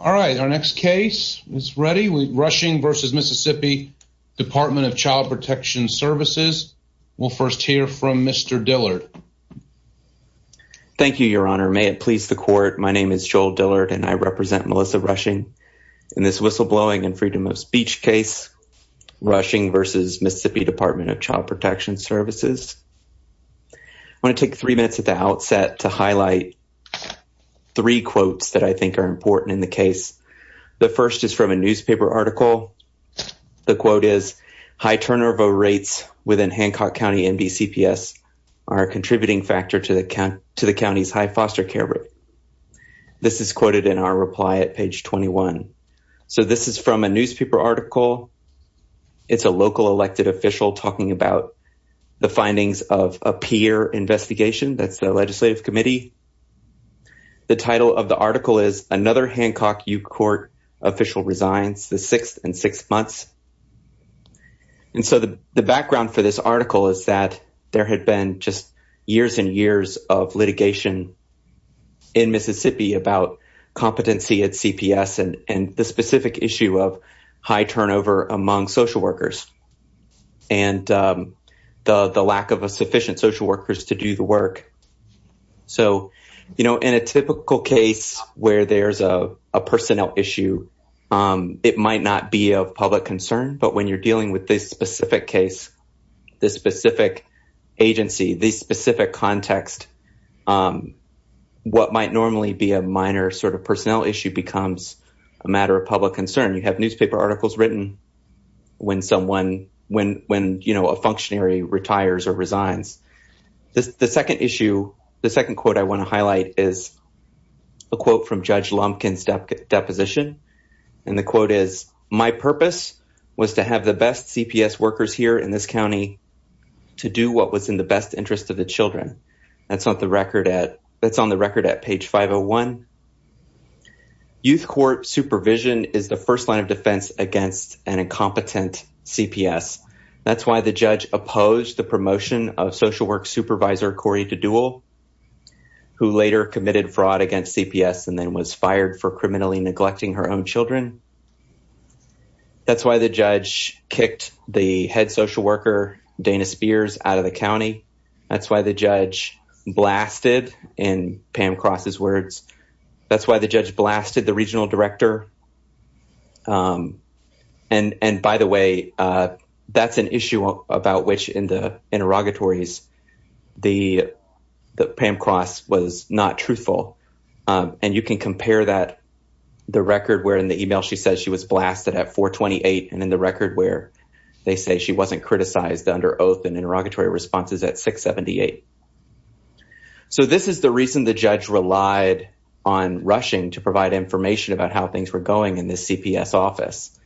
All right, our next case is ready with Rushing v. MS Dept of Child Protc Svc. We'll first hear from Mr. Dillard. Thank you, Your Honor. May it please the Court, my name is Joel Dillard and I represent Melissa Rushing in this Whistleblowing and Freedom of Speech case, Rushing v. MS Dept of Child Protc Svc. I want to take three minutes at the outset to highlight three quotes that I think are important in the case. The first is from a newspaper article. The quote is, high turnover rates within Hancock County MDCPS are a contributing factor to the county's high foster care rate. This is quoted in our reply at page 21. So this is from a newspaper article. It's a local elected official talking about the findings of a peer investigation, that's the legislative committee. The title of the article is, Another Hancock U Court Official Resigns, the Sixth in Six Months. And so the background for this article is that there had been just years and years of litigation in Mississippi about competency at CPS and the specific issue of high turnover among social workers and the lack of sufficient social workers to do the work. So, you know, in a typical case where there's a personnel issue, it might not be of public concern, but when you're dealing with this specific case, this specific agency, this specific context, what might normally be a minor sort of personnel issue becomes a matter of public concern. You have newspaper articles written when someone, when, you know, a functionary retires or resigns. The second issue, the second quote I want to highlight is a quote from Judge Lumpkin's deposition. And the quote is, My purpose was to have the best CPS workers here in this county to do what was in the best interest of the children. That's on the record at page 501. Youth court supervision is the first line of defense against an incompetent CPS. That's why the judge opposed the promotion of social work supervisor, Corey DeDuel, who later committed fraud against CPS and then was fired for criminally neglecting her own children. That's why the judge kicked the head social worker, Dana Spears, out of the county. That's why the judge blasted, in Pam Cross's words, that's why the judge blasted the regional director. And by the way, that's an issue about which in the interrogatories, the Pam Cross was not truthful. And you can compare that, the record where in the email she says she was blasted at 428 and in the record where they say she wasn't criticized under oath and interrogatory responses at 678. So this is the reason the judge relied on rushing to provide information about how things were going in the CPS office.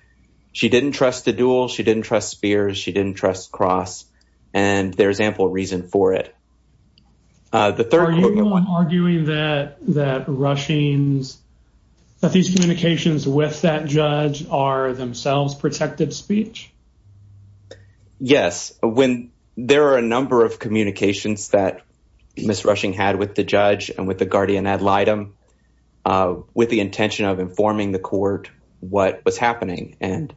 She didn't trust DeDuel, she didn't trust Spears, she didn't trust Cross. And there's ample reason for it. Are you arguing that these communications with that judge are themselves protective speech? Yes. There are a number of communications that Ms. Rushing had with the judge and with the guardian ad litem with the intention of informing the court what was happening. And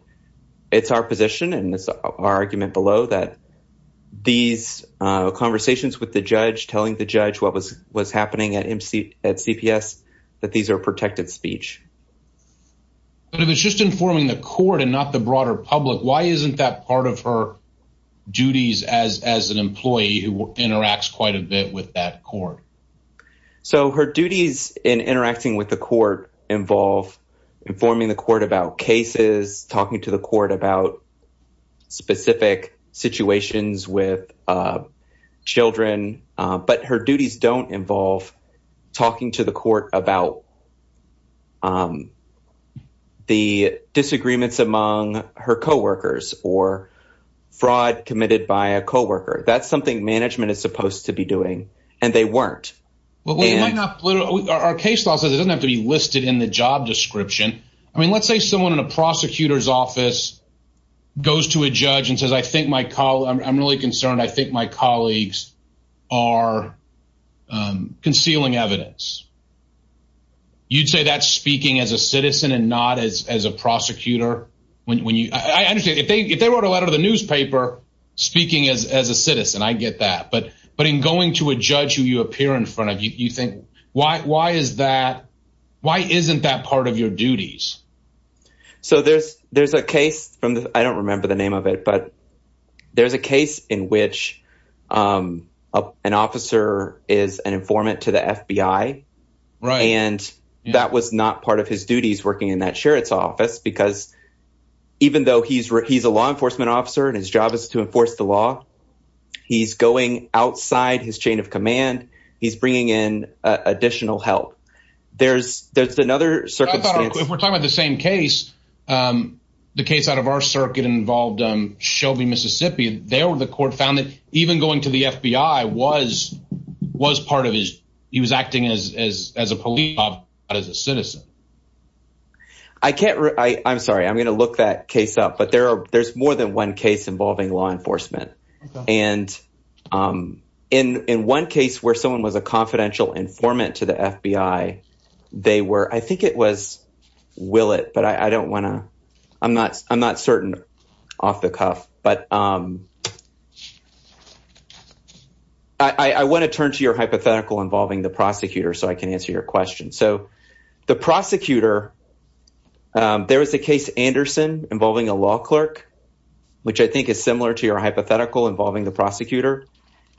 it's our position and it's our argument below that these conversations with the judge, telling the judge what was happening at CPS, that these are protective speech. But if it's just informing the court and not the broader public, why isn't that part of her duties as an employee who interacts quite a bit with that court? So her duties in interacting with the court involve informing the court about cases, talking to the court about specific situations with children. But her duties don't involve talking to the court about the disagreements among her coworkers or fraud committed by a coworker. That's something management is supposed to be doing, and they weren't. Our case law says it doesn't have to be listed in the job description. I mean, let's say someone in a prosecutor's office goes to a judge and says, I'm really concerned, I think my colleagues are concealing evidence. You'd say that's speaking as a citizen and not as a prosecutor? If they wrote a letter to the newspaper speaking as a citizen, I get that. But in going to a judge who you appear in front of, you think, why is that? Why isn't that part of your duties? So there's a case from the I don't remember the name of it, but there's a case in which an officer is an informant to the FBI. Right. And that was not part of his duties working in that sheriff's office, because even though he's he's a law enforcement officer and his job is to enforce the law, he's going outside his chain of command. He's bringing in additional help. There's there's another if we're talking about the same case, the case out of our circuit involved Shelby, Mississippi. They were the court found that even going to the FBI was was part of his. He was acting as as as a police officer, as a citizen. I can't. I'm sorry. I'm going to look that case up. But there are there's more than one case involving law enforcement. And in one case where someone was a confidential informant to the FBI, they were I think it was. Will it? But I don't want to I'm not I'm not certain off the cuff, but I want to turn to your hypothetical involving the prosecutor so I can answer your question. So the prosecutor, there is a case, Anderson, involving a law clerk, which I think is similar to your hypothetical involving the prosecutor.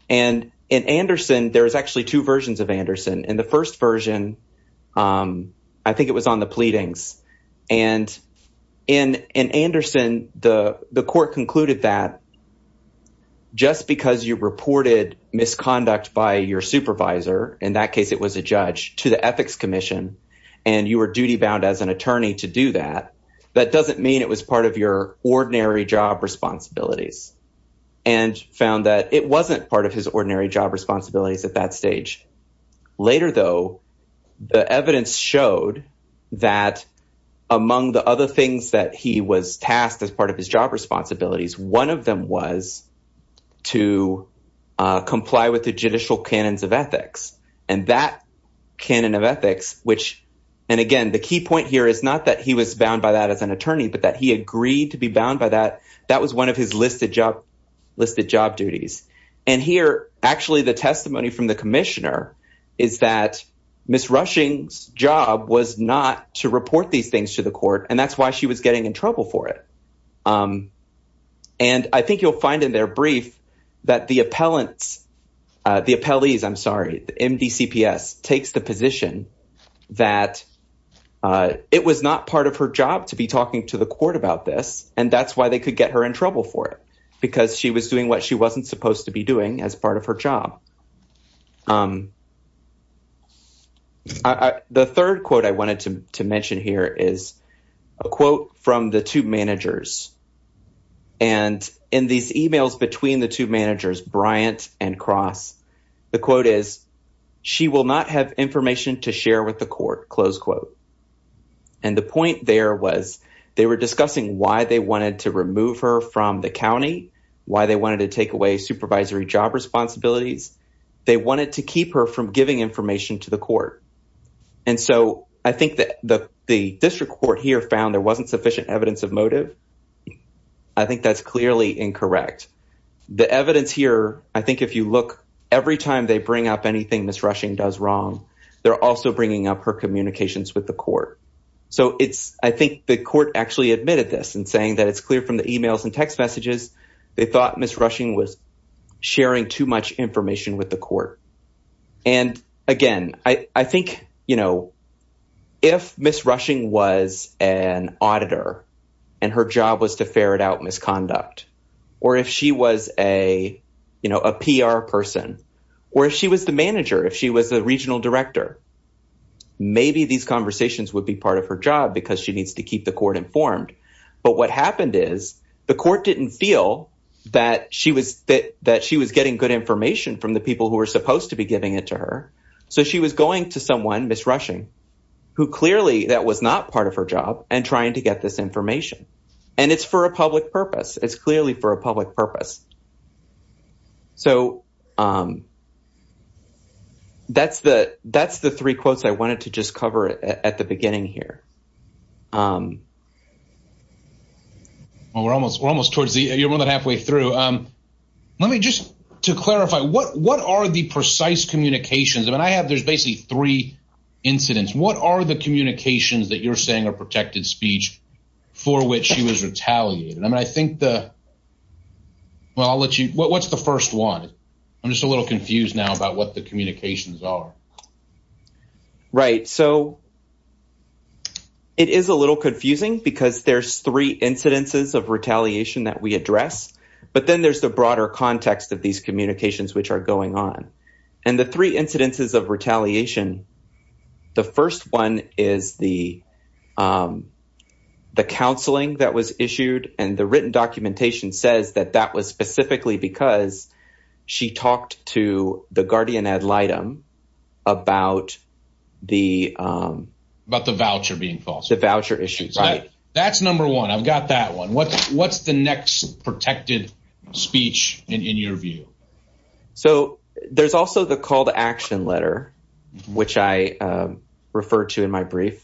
And in Anderson, there is actually two versions of Anderson. And the first version, I think it was on the pleadings. And in in Anderson, the the court concluded that. Just because you reported misconduct by your supervisor, in that case, it was a judge to the Ethics Commission and you were duty bound as an attorney to do that. That doesn't mean it was part of your ordinary job responsibilities and found that it wasn't part of his ordinary job responsibilities at that stage. Later, though, the evidence showed that among the other things that he was tasked as part of his job responsibilities, one of them was to comply with the judicial canons of ethics. And that canon of ethics, which and again, the key point here is not that he was bound by that as an attorney, but that he agreed to be bound by that. That was one of his listed job, listed job duties. And here, actually, the testimony from the commissioner is that Miss Rushing's job was not to report these things to the court. And that's why she was getting in trouble for it. And I think you'll find in their brief that the appellants, the appellees, I'm sorry, MDCPS takes the position that it was not part of her job to be talking to the court about this. And that's why they could get her in trouble for it, because she was doing what she wasn't supposed to be doing as part of her job. The third quote I wanted to mention here is a quote from the two managers. And in these emails between the two managers, Bryant and Cross, the quote is, she will not have information to share with the court, close quote. And the point there was they were discussing why they wanted to remove her from the county, why they wanted to take away supervisory job responsibilities. They wanted to keep her from giving information to the court. And so I think that the district court here found there wasn't sufficient evidence of motive. I think that's clearly incorrect. The evidence here, I think if you look every time they bring up anything Ms. Rushing does wrong, they're also bringing up her communications with the court. So it's I think the court actually admitted this and saying that it's clear from the emails and text messages. They thought Ms. Rushing was sharing too much information with the court. And again, I think, you know, if Ms. Rushing was an auditor and her job was to ferret out misconduct or if she was a, you know, a PR person or if she was the manager, if she was the regional director. Maybe these conversations would be part of her job because she needs to keep the court informed. But what happened is the court didn't feel that she was that she was getting good information from the people who were supposed to be giving it to her. So she was going to someone, Ms. Rushing, who clearly that was not part of her job and trying to get this information. And it's for a public purpose. It's clearly for a public purpose. So. That's the that's the three quotes I wanted to just cover at the beginning here. Well, we're almost we're almost towards the halfway through. Let me just to clarify, what what are the precise communications? And I have there's basically three incidents. What are the communications that you're saying are protected speech for which she was retaliated? I mean, I think the. Well, I'll let you what's the first one? I'm just a little confused now about what the communications are. Right. So. It is a little confusing because there's three incidences of retaliation that we address. But then there's the broader context of these communications which are going on. And the three incidences of retaliation. The first one is the. The counseling that was issued and the written documentation says that that was specifically because she talked to the guardian ad litem. About the about the voucher being false, the voucher issues. That's number one. I've got that one. What's what's the next protected speech in your view? So there's also the call to action letter, which I referred to in my brief.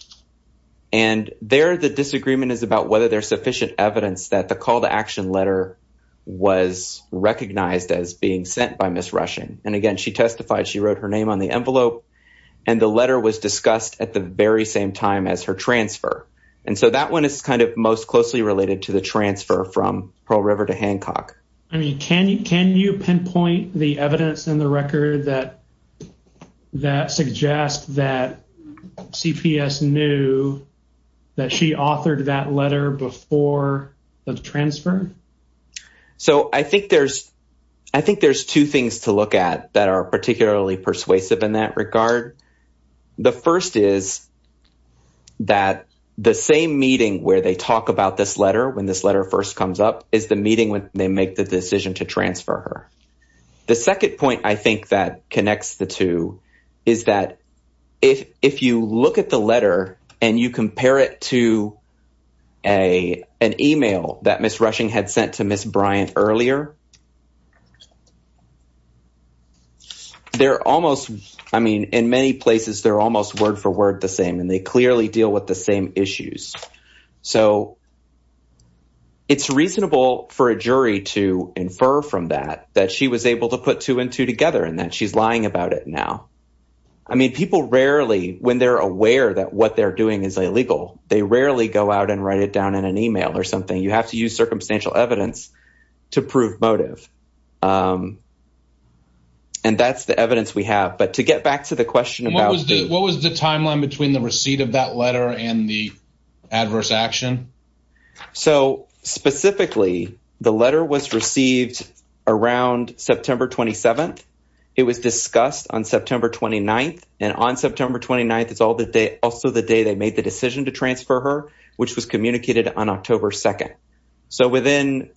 And there the disagreement is about whether there's sufficient evidence that the call to action letter was recognized as being sent by Miss Russian. And again, she testified she wrote her name on the envelope and the letter was discussed at the very same time as her transfer. And so that one is kind of most closely related to the transfer from Pearl River to Hancock. I mean, can you can you pinpoint the evidence in the record that that suggests that CPS knew that she authored that letter before the transfer? So I think there's I think there's two things to look at that are particularly persuasive in that regard. The first is. That the same meeting where they talk about this letter when this letter first comes up is the meeting when they make the decision to transfer her. The second point, I think, that connects the two is that if if you look at the letter and you compare it to a an email that Miss Rushing had sent to Miss Bryant earlier. They're almost I mean, in many places, they're almost word for word the same and they clearly deal with the same issues. So. It's reasonable for a jury to infer from that that she was able to put two and two together and that she's lying about it now. I mean, people rarely when they're aware that what they're doing is illegal. They rarely go out and write it down in an email or something. You have to use circumstantial evidence to prove motive. And that's the evidence we have. But to get back to the question about what was the timeline between the receipt of that letter and the adverse action. So specifically, the letter was received around September 27th. It was discussed on September 29th and on September 29th. It's all the day. Also, the day they made the decision to transfer her, which was communicated on October 2nd. So within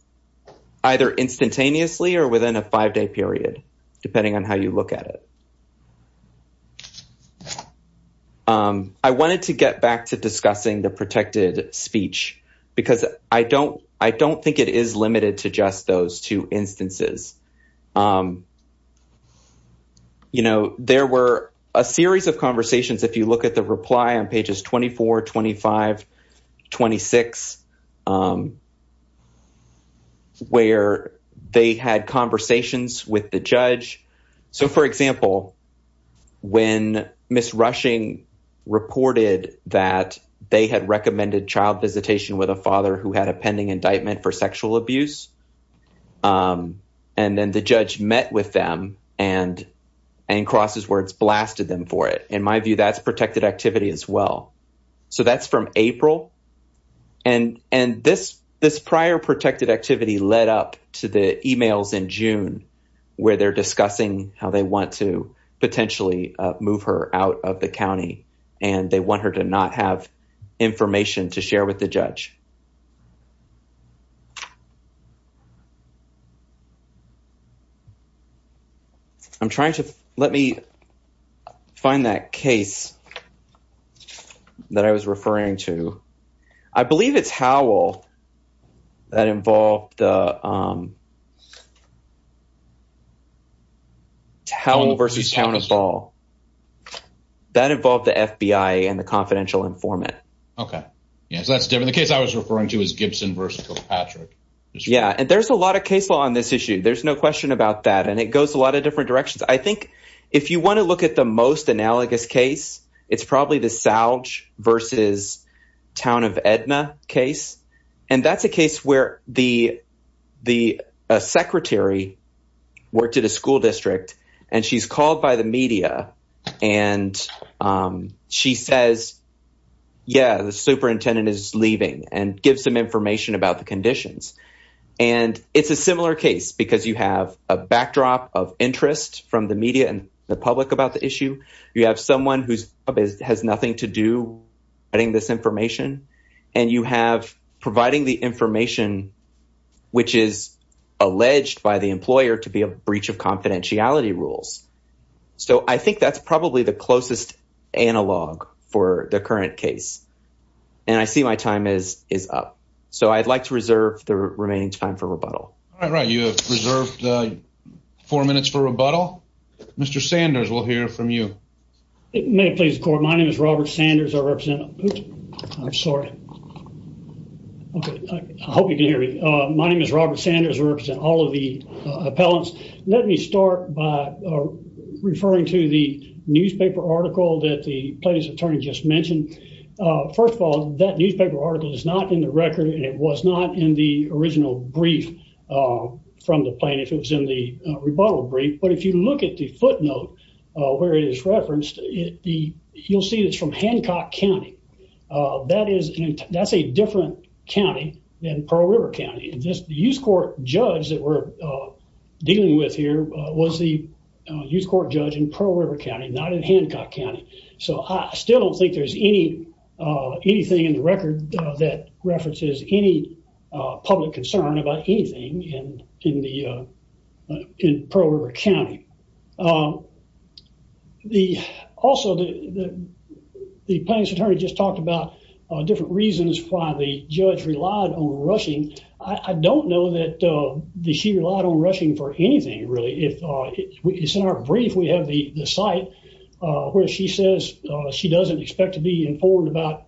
either instantaneously or within a five day period, depending on how you look at it. I wanted to get back to discussing the protected speech because I don't I don't think it is limited to just those two instances. You know, there were a series of conversations, if you look at the reply on pages 24, 25, 26. Where they had conversations with the judge. So, for example, when Miss Rushing reported that they had recommended child visitation with a father who had a pending indictment for sexual abuse. And then the judge met with them and and cross his words, blasted them for it. In my view, that's protected activity as well. So that's from April. And and this this prior protected activity led up to the emails in June where they're discussing how they want to potentially move her out of the county and they want her to not have information to share with the judge. I'm trying to let me find that case that I was referring to. I believe it's Howell that involved the. That involved the FBI and the confidential informant. OK. Yes, that's different. The case I was referring to is Gibson versus Patrick. Yeah. And there's a lot of case law on this issue. There's no question about that. And it goes a lot of different directions. I think if you want to look at the most analogous case, it's probably the salch versus town of Edna case. And that's a case where the the secretary worked at a school district and she's called by the media and she says, yeah, the superintendent is leaving and give some information about the conditions. And it's a similar case because you have a backdrop of interest from the media and the public about the issue. You have someone who has nothing to do. I think this information and you have providing the information which is alleged by the employer to be a breach of confidentiality rules. So I think that's probably the closest analog for the current case. And I see my time is is up. So I'd like to reserve the remaining time for rebuttal. All right. You have reserved four minutes for rebuttal. Mr. Sanders, we'll hear from you. May it please the court. My name is Robert Sanders. I represent. I'm sorry. OK. I hope you can hear me. My name is Robert Sanders. I represent all of the appellants. Let me start by referring to the newspaper article that the plaintiff's attorney just mentioned. First of all, that newspaper article is not in the record. And it was not in the original brief from the plaintiff. It was in the rebuttal brief. But if you look at the footnote where it is referenced, you'll see it's from Hancock County. That is that's a different county than Pearl River County. And just the youth court judge that we're dealing with here was the youth court judge in Pearl River County, not in Hancock County. So I still don't think there's any anything in the record that references any public concern about anything in the in Pearl River County. Also, the plaintiff's attorney just talked about different reasons why the judge relied on rushing. I don't know that she relied on rushing for anything, really. In our brief, we have the site where she says she doesn't expect to be informed about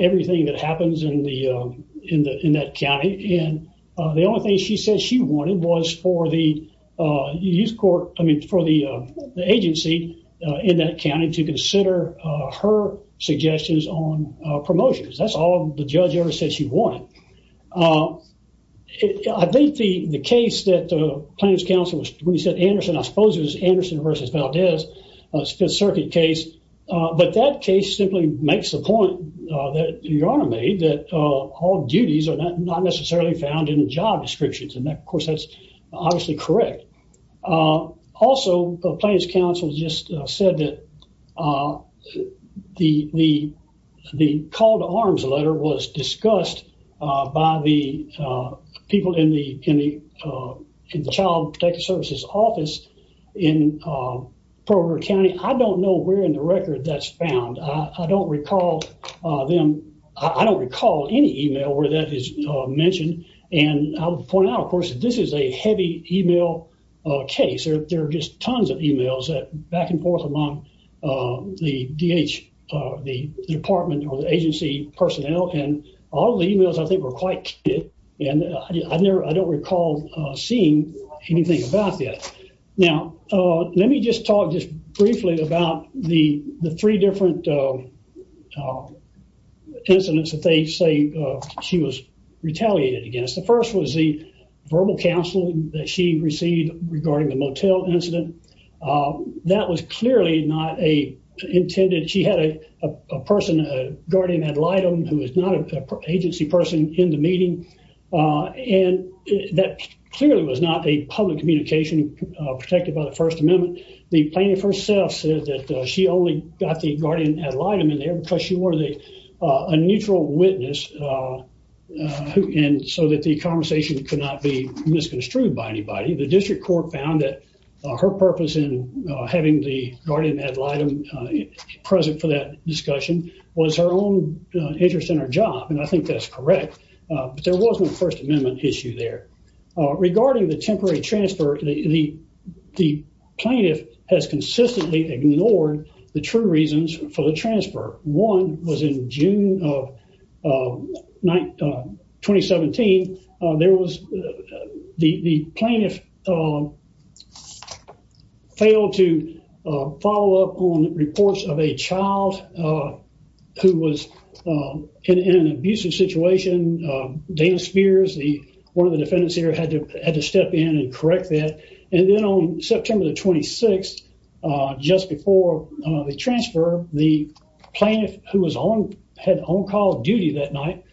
everything that happens in that county. And the only thing she said she wanted was for the youth court, I mean, for the agency in that county to consider her suggestions on promotions. That's all the judge ever said she wanted. I think the case that the plaintiff's counsel was when he said Anderson, I suppose it was Anderson versus Valdez, a Fifth Circuit case. But that case simply makes the point that your honor made that all duties are not necessarily found in the job descriptions. And that, of course, that's obviously correct. Also, the plaintiff's counsel just said that the call to arms letter was discussed by the people in the Child Protective Services office in Pearl River County. I don't know where in the record that's found. I don't recall them. I don't recall any email where that is mentioned. And I'll point out, of course, this is a heavy email case. There are just tons of emails back and forth among the DH, the department or the agency personnel. And all the emails, I think, were quite key. And I don't recall seeing anything about that. Now, let me just talk just briefly about the three different incidents that they say she was retaliated against. The first was the verbal counseling that she received regarding the motel incident. That was clearly not intended. She had a person, a guardian ad litem, who was not an agency person in the meeting. And that clearly was not a public communication protected by the First Amendment. The plaintiff herself said that she only got the guardian ad litem in there because she were a neutral witness and so that the conversation could not be misconstrued by anybody. The district court found that her purpose in having the guardian ad litem present for that discussion was her own interest in her job. And I think that's correct. But there was no First Amendment issue there. Regarding the temporary transfer, the plaintiff has consistently ignored the true reasons for the transfer. One was in June of 2017. The plaintiff failed to follow up on reports of a child who was in an abusive situation. Dana Spears, one of the defendants here, had to step in and correct that. And then on September the 26th, just before the transfer, the plaintiff, who had on-call duty that night,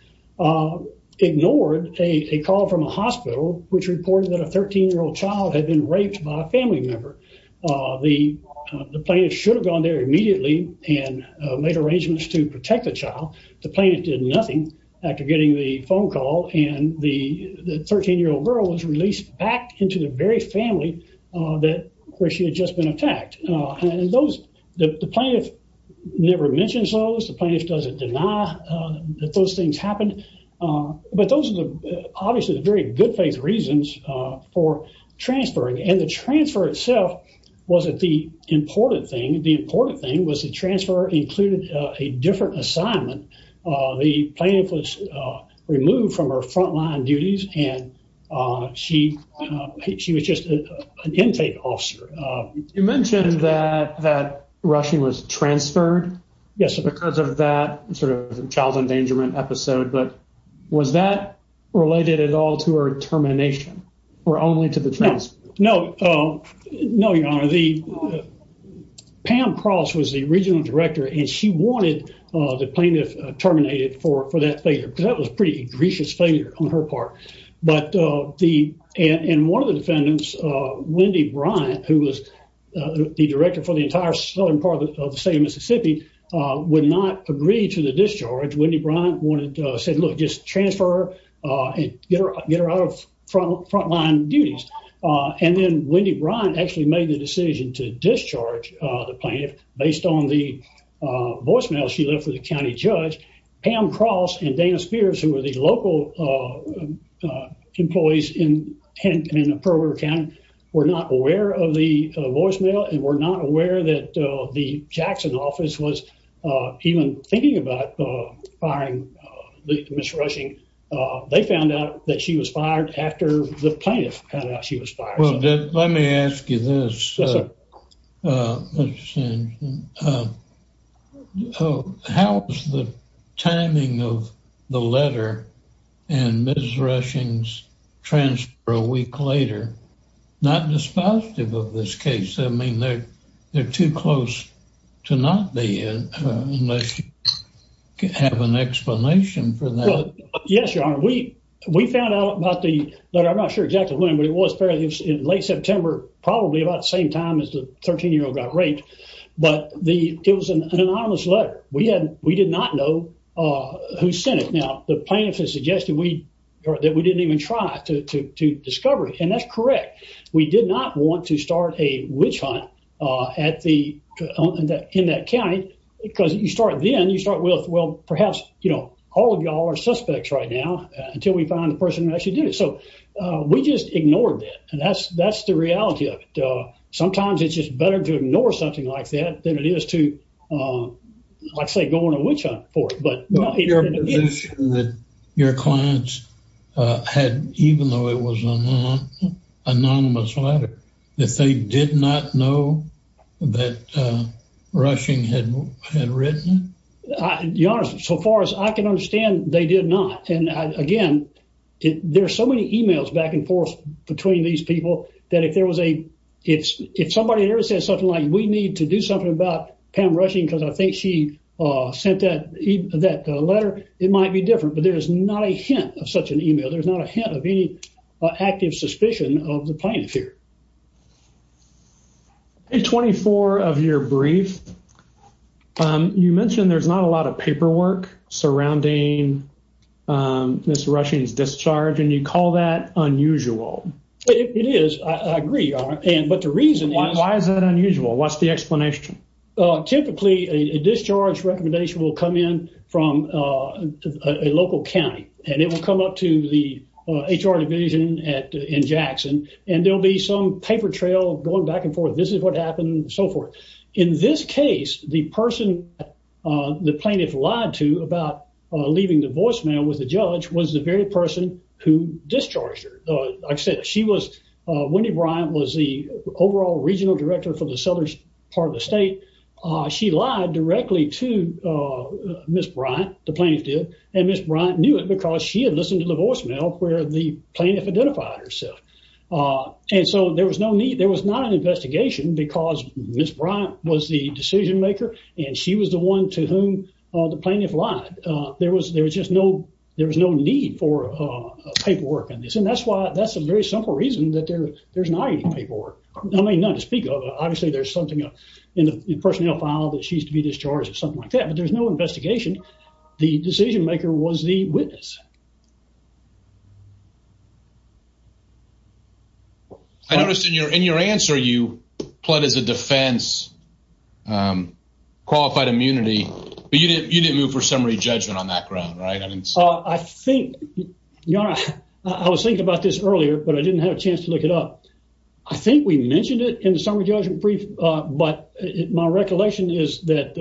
ignored a call from a hospital which reported that a 13-year-old child had been raped by a family member. The plaintiff should have gone there immediately and made arrangements to protect the child. The plaintiff did nothing after getting the phone call and the 13-year-old girl was released back into the very family where she had just been attacked. And the plaintiff never mentions those. The plaintiff doesn't deny that those things happened. But those are obviously the very good faith reasons for transferring. And the transfer itself wasn't the important thing. The important thing was the transfer included a different assignment. The plaintiff was removed from her frontline duties and she was just an intake officer. You mentioned that Rushing was transferred because of that sort of child endangerment episode. But was that related at all to her termination or only to the transfer? No, Your Honor. Pam Cross was the regional director and she wanted the plaintiff terminated for that failure because that was a pretty egregious failure on her part. And one of the defendants, Wendy Bryant, who was the director for the entire southern part of the state of Mississippi, would not agree to the discharge. Wendy Bryant said, look, just transfer her and get her out of frontline duties. And then Wendy Bryant actually made the decision to discharge the plaintiff based on the voicemail she left with the county judge. Pam Cross and Dana Spears, who were the local employees in Pearl River County, were not aware of the voicemail and were not aware that the Jackson office was even thinking about firing Ms. Rushing. They found out that she was fired after the plaintiff found out she was fired. Well, let me ask you this. How is the timing of the letter and Ms. Rushing's transfer a week later not dispositive of this case? I mean, they're too close to not be unless you have an explanation for that. Yes, your honor, we found out about the letter. I'm not sure exactly when, but it was fairly late September, probably about the same time as the 13 year old got raped. But it was an anonymous letter. We did not know who sent it. Now, the plaintiff has suggested that we didn't even try to discover it. And that's correct. We did not want to start a witch hunt in that county. Then you start with, well, perhaps all of y'all are suspects right now until we find the person who actually did it. So we just ignored that. And that's the reality of it. Sometimes it's just better to ignore something like that than it is to, like I say, go on a witch hunt for it. Your clients had, even though it was an anonymous letter, that they did not know that Rushing had written it? Your honor, so far as I can understand, they did not. And again, there are so many e-mails back and forth between these people that if there was a, if somebody ever said something like, we need to do something about Pam Rushing because I think she sent that letter, it might be different. But there is not a hint of such an e-mail. There's not a hint of any active suspicion of the plaintiff here. In 24 of your brief, you mentioned there's not a lot of paperwork surrounding Ms. Rushing's discharge, and you call that unusual. It is. I agree, your honor. But the reason is. Why is that unusual? What's the explanation? Typically, a discharge recommendation will come in from a local county. And it will come up to the HR division in Jackson. And there will be some paper trail going back and forth. This is what happened and so forth. In this case, the person the plaintiff lied to about leaving the voicemail with the judge was the very person who discharged her. Like I said, she was, Wendy Bryant was the overall regional director for the southern part of the state. She lied directly to Ms. Bryant, the plaintiff did. And Ms. Bryant knew it because she had listened to the voicemail where the plaintiff identified herself. And so there was no need, there was not an investigation because Ms. Bryant was the decision maker and she was the one to whom the plaintiff lied. There was just no, there was no need for paperwork on this. And that's why, that's a very simple reason that there's not any paperwork. I mean, not to speak of. Obviously, there's something in the personnel file that she's to be discharged or something like that. But there's no investigation. The decision maker was the witness. I noticed in your answer you pled as a defense, qualified immunity. But you didn't move for summary judgment on that ground, right? I think, I was thinking about this earlier, but I didn't have a chance to look it up. I think we mentioned it in the summary judgment brief. But my recollection is that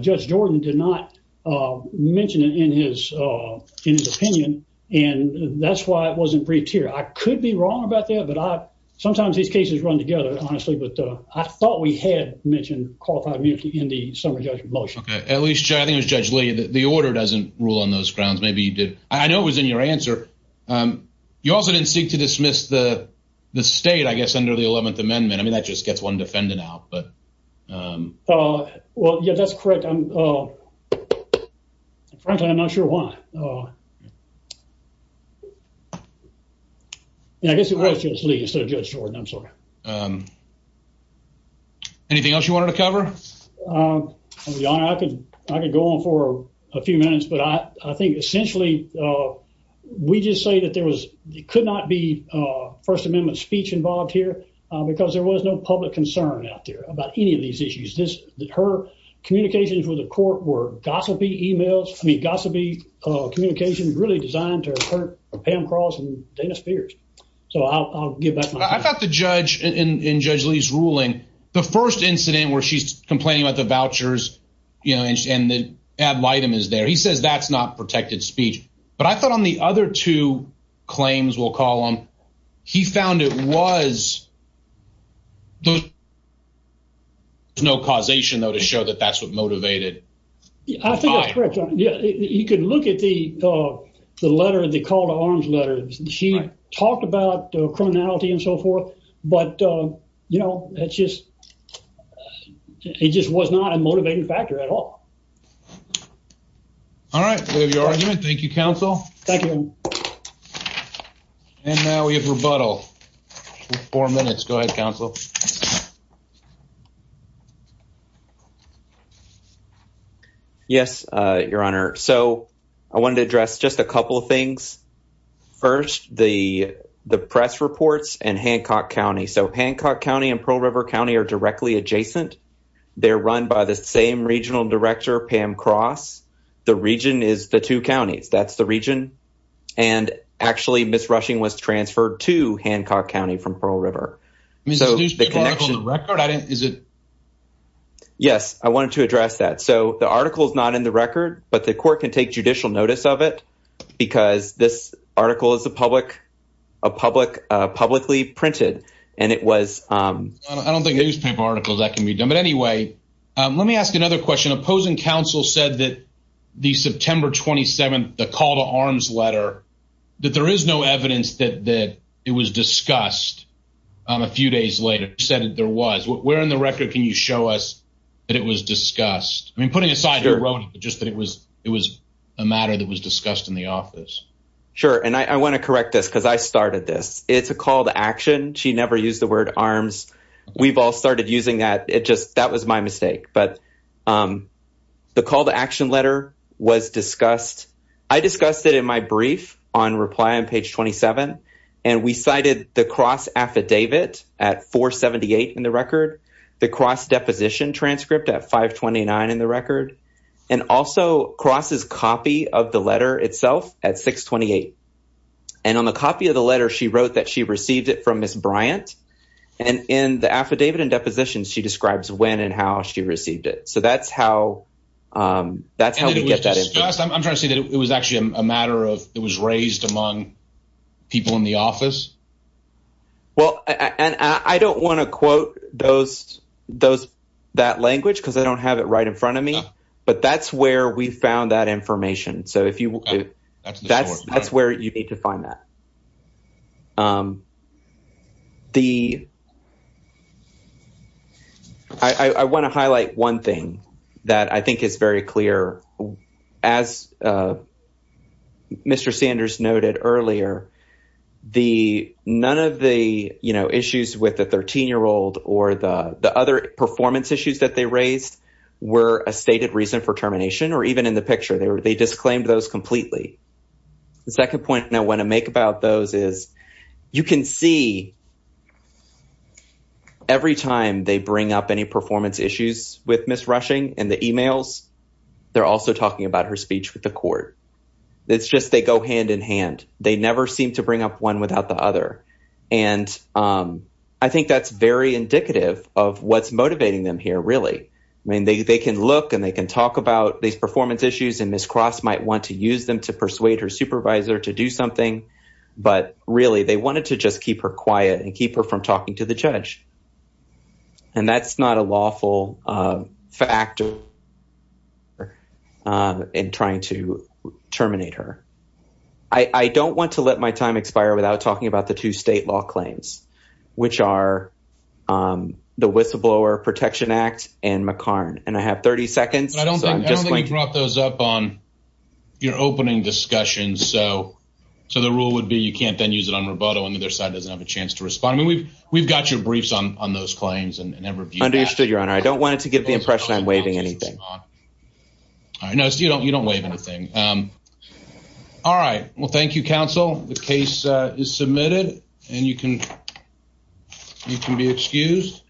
Judge Jordan did not mention it in his opinion. And that's why it wasn't briefed here. I could be wrong about that, but sometimes these cases run together, honestly. But I thought we had mentioned qualified immunity in the summary judgment motion. Okay. At least, I think it was Judge Lee. The order doesn't rule on those grounds. Maybe you did. I know it was in your answer. You also didn't seek to dismiss the state, I guess, under the 11th Amendment. I mean, that just gets one defendant out. Well, yeah, that's correct. Frankly, I'm not sure why. I guess it was Judge Lee instead of Judge Jordan. I'm sorry. Anything else you wanted to cover? Your Honor, I could go on for a few minutes. But I think, essentially, we just say that there could not be First Amendment speech involved here because there was no public concern out there about any of these issues. Her communications with the court were gossipy emails. I mean, gossipy communications really designed to hurt Pam Cross and Dana Spears. So I'll give back my time. I thought the judge in Judge Lee's ruling, the first incident where she's complaining about the vouchers and the ad litem is there, he says that's not protected speech. But I thought on the other two claims, we'll call them, he found it was. There's no causation, though, to show that that's what motivated. I think that's correct, Your Honor. You could look at the letter, the call to arms letter. She talked about criminality and so forth. But, you know, it just was not a motivating factor at all. All right. We have your argument. Thank you, counsel. Thank you. And now we have rebuttal. Four minutes. Go ahead, counsel. So I wanted to address just a couple of things. First, the press reports and Hancock County. So Hancock County and Pearl River County are directly adjacent. They're run by the same regional director, Pam Cross. The region is the two counties. That's the region. And actually, Ms. Rushing was transferred to Hancock County from Pearl River. So the connection. Is it? Yes, I wanted to address that. So the article is not in the record. But the court can take judicial notice of it. Because this article is a public, publicly printed. And it was. I don't think newspaper articles that can be done. But anyway, let me ask you another question. Opposing counsel said that the September 27th, the call to arms letter. That there is no evidence that it was discussed. A few days later said that there was. Where in the record can you show us that it was discussed? I mean, putting aside just that it was. It was a matter that was discussed in the office. Sure. And I want to correct this because I started this. It's a call to action. She never used the word arms. We've all started using that. It just that was my mistake. But the call to action letter was discussed. I discussed it in my brief on reply on page 27. And we cited the cross affidavit at 478 in the record. The cross deposition transcript at 529 in the record. And also crosses copy of the letter itself at 628. And on the copy of the letter, she wrote that she received it from Ms. Bryant. And in the affidavit and depositions, she describes when and how she received it. So that's how. That's how we get that. I'm trying to say that it was actually a matter of, it was raised among people in the office. And I don't want to quote those, those. That language. Cause I don't have it right in front of me, but that's where we found that information. So if you will, that's, that's where you need to find that. The. I want to highlight one thing that I think is very clear as. Mr. Sanders noted earlier. The, none of the, you know, issues with the 13 year old or the, the other performance issues that they raised were a stated reason for termination, or even in the picture, they were, they disclaimed those completely. The second point I want to make about those is you can see. Every time they bring up any performance issues with Ms. Rushing and the emails. They're also talking about her speech with the court. It's just, they go hand in hand. They never seem to bring up one without the other. And I think that's very indicative of what's motivating them here. Really. I mean, they, they can look and they can talk about these performance issues and Ms. Cross might want to use them to persuade her supervisor to do something. But really they wanted to just keep her quiet and keep her from talking to the judge. And that's not a lawful factor. And trying to terminate her. I don't want to let my time expire without talking about the two state law claims, which are. The whistleblower protection act and McCarn. And I have 30 seconds. I don't think you brought those up on your opening discussion. So, so the rule would be, you can't then use it on Roboto and the other side doesn't have a chance to respond. I mean, we've, we've got your briefs on, on those claims and never understood your honor. I don't want it to give the impression. I'm waving anything. I know you don't, you don't wave anything. All right. Well, thank you. Counsel. The case is submitted and you can. You can be excused.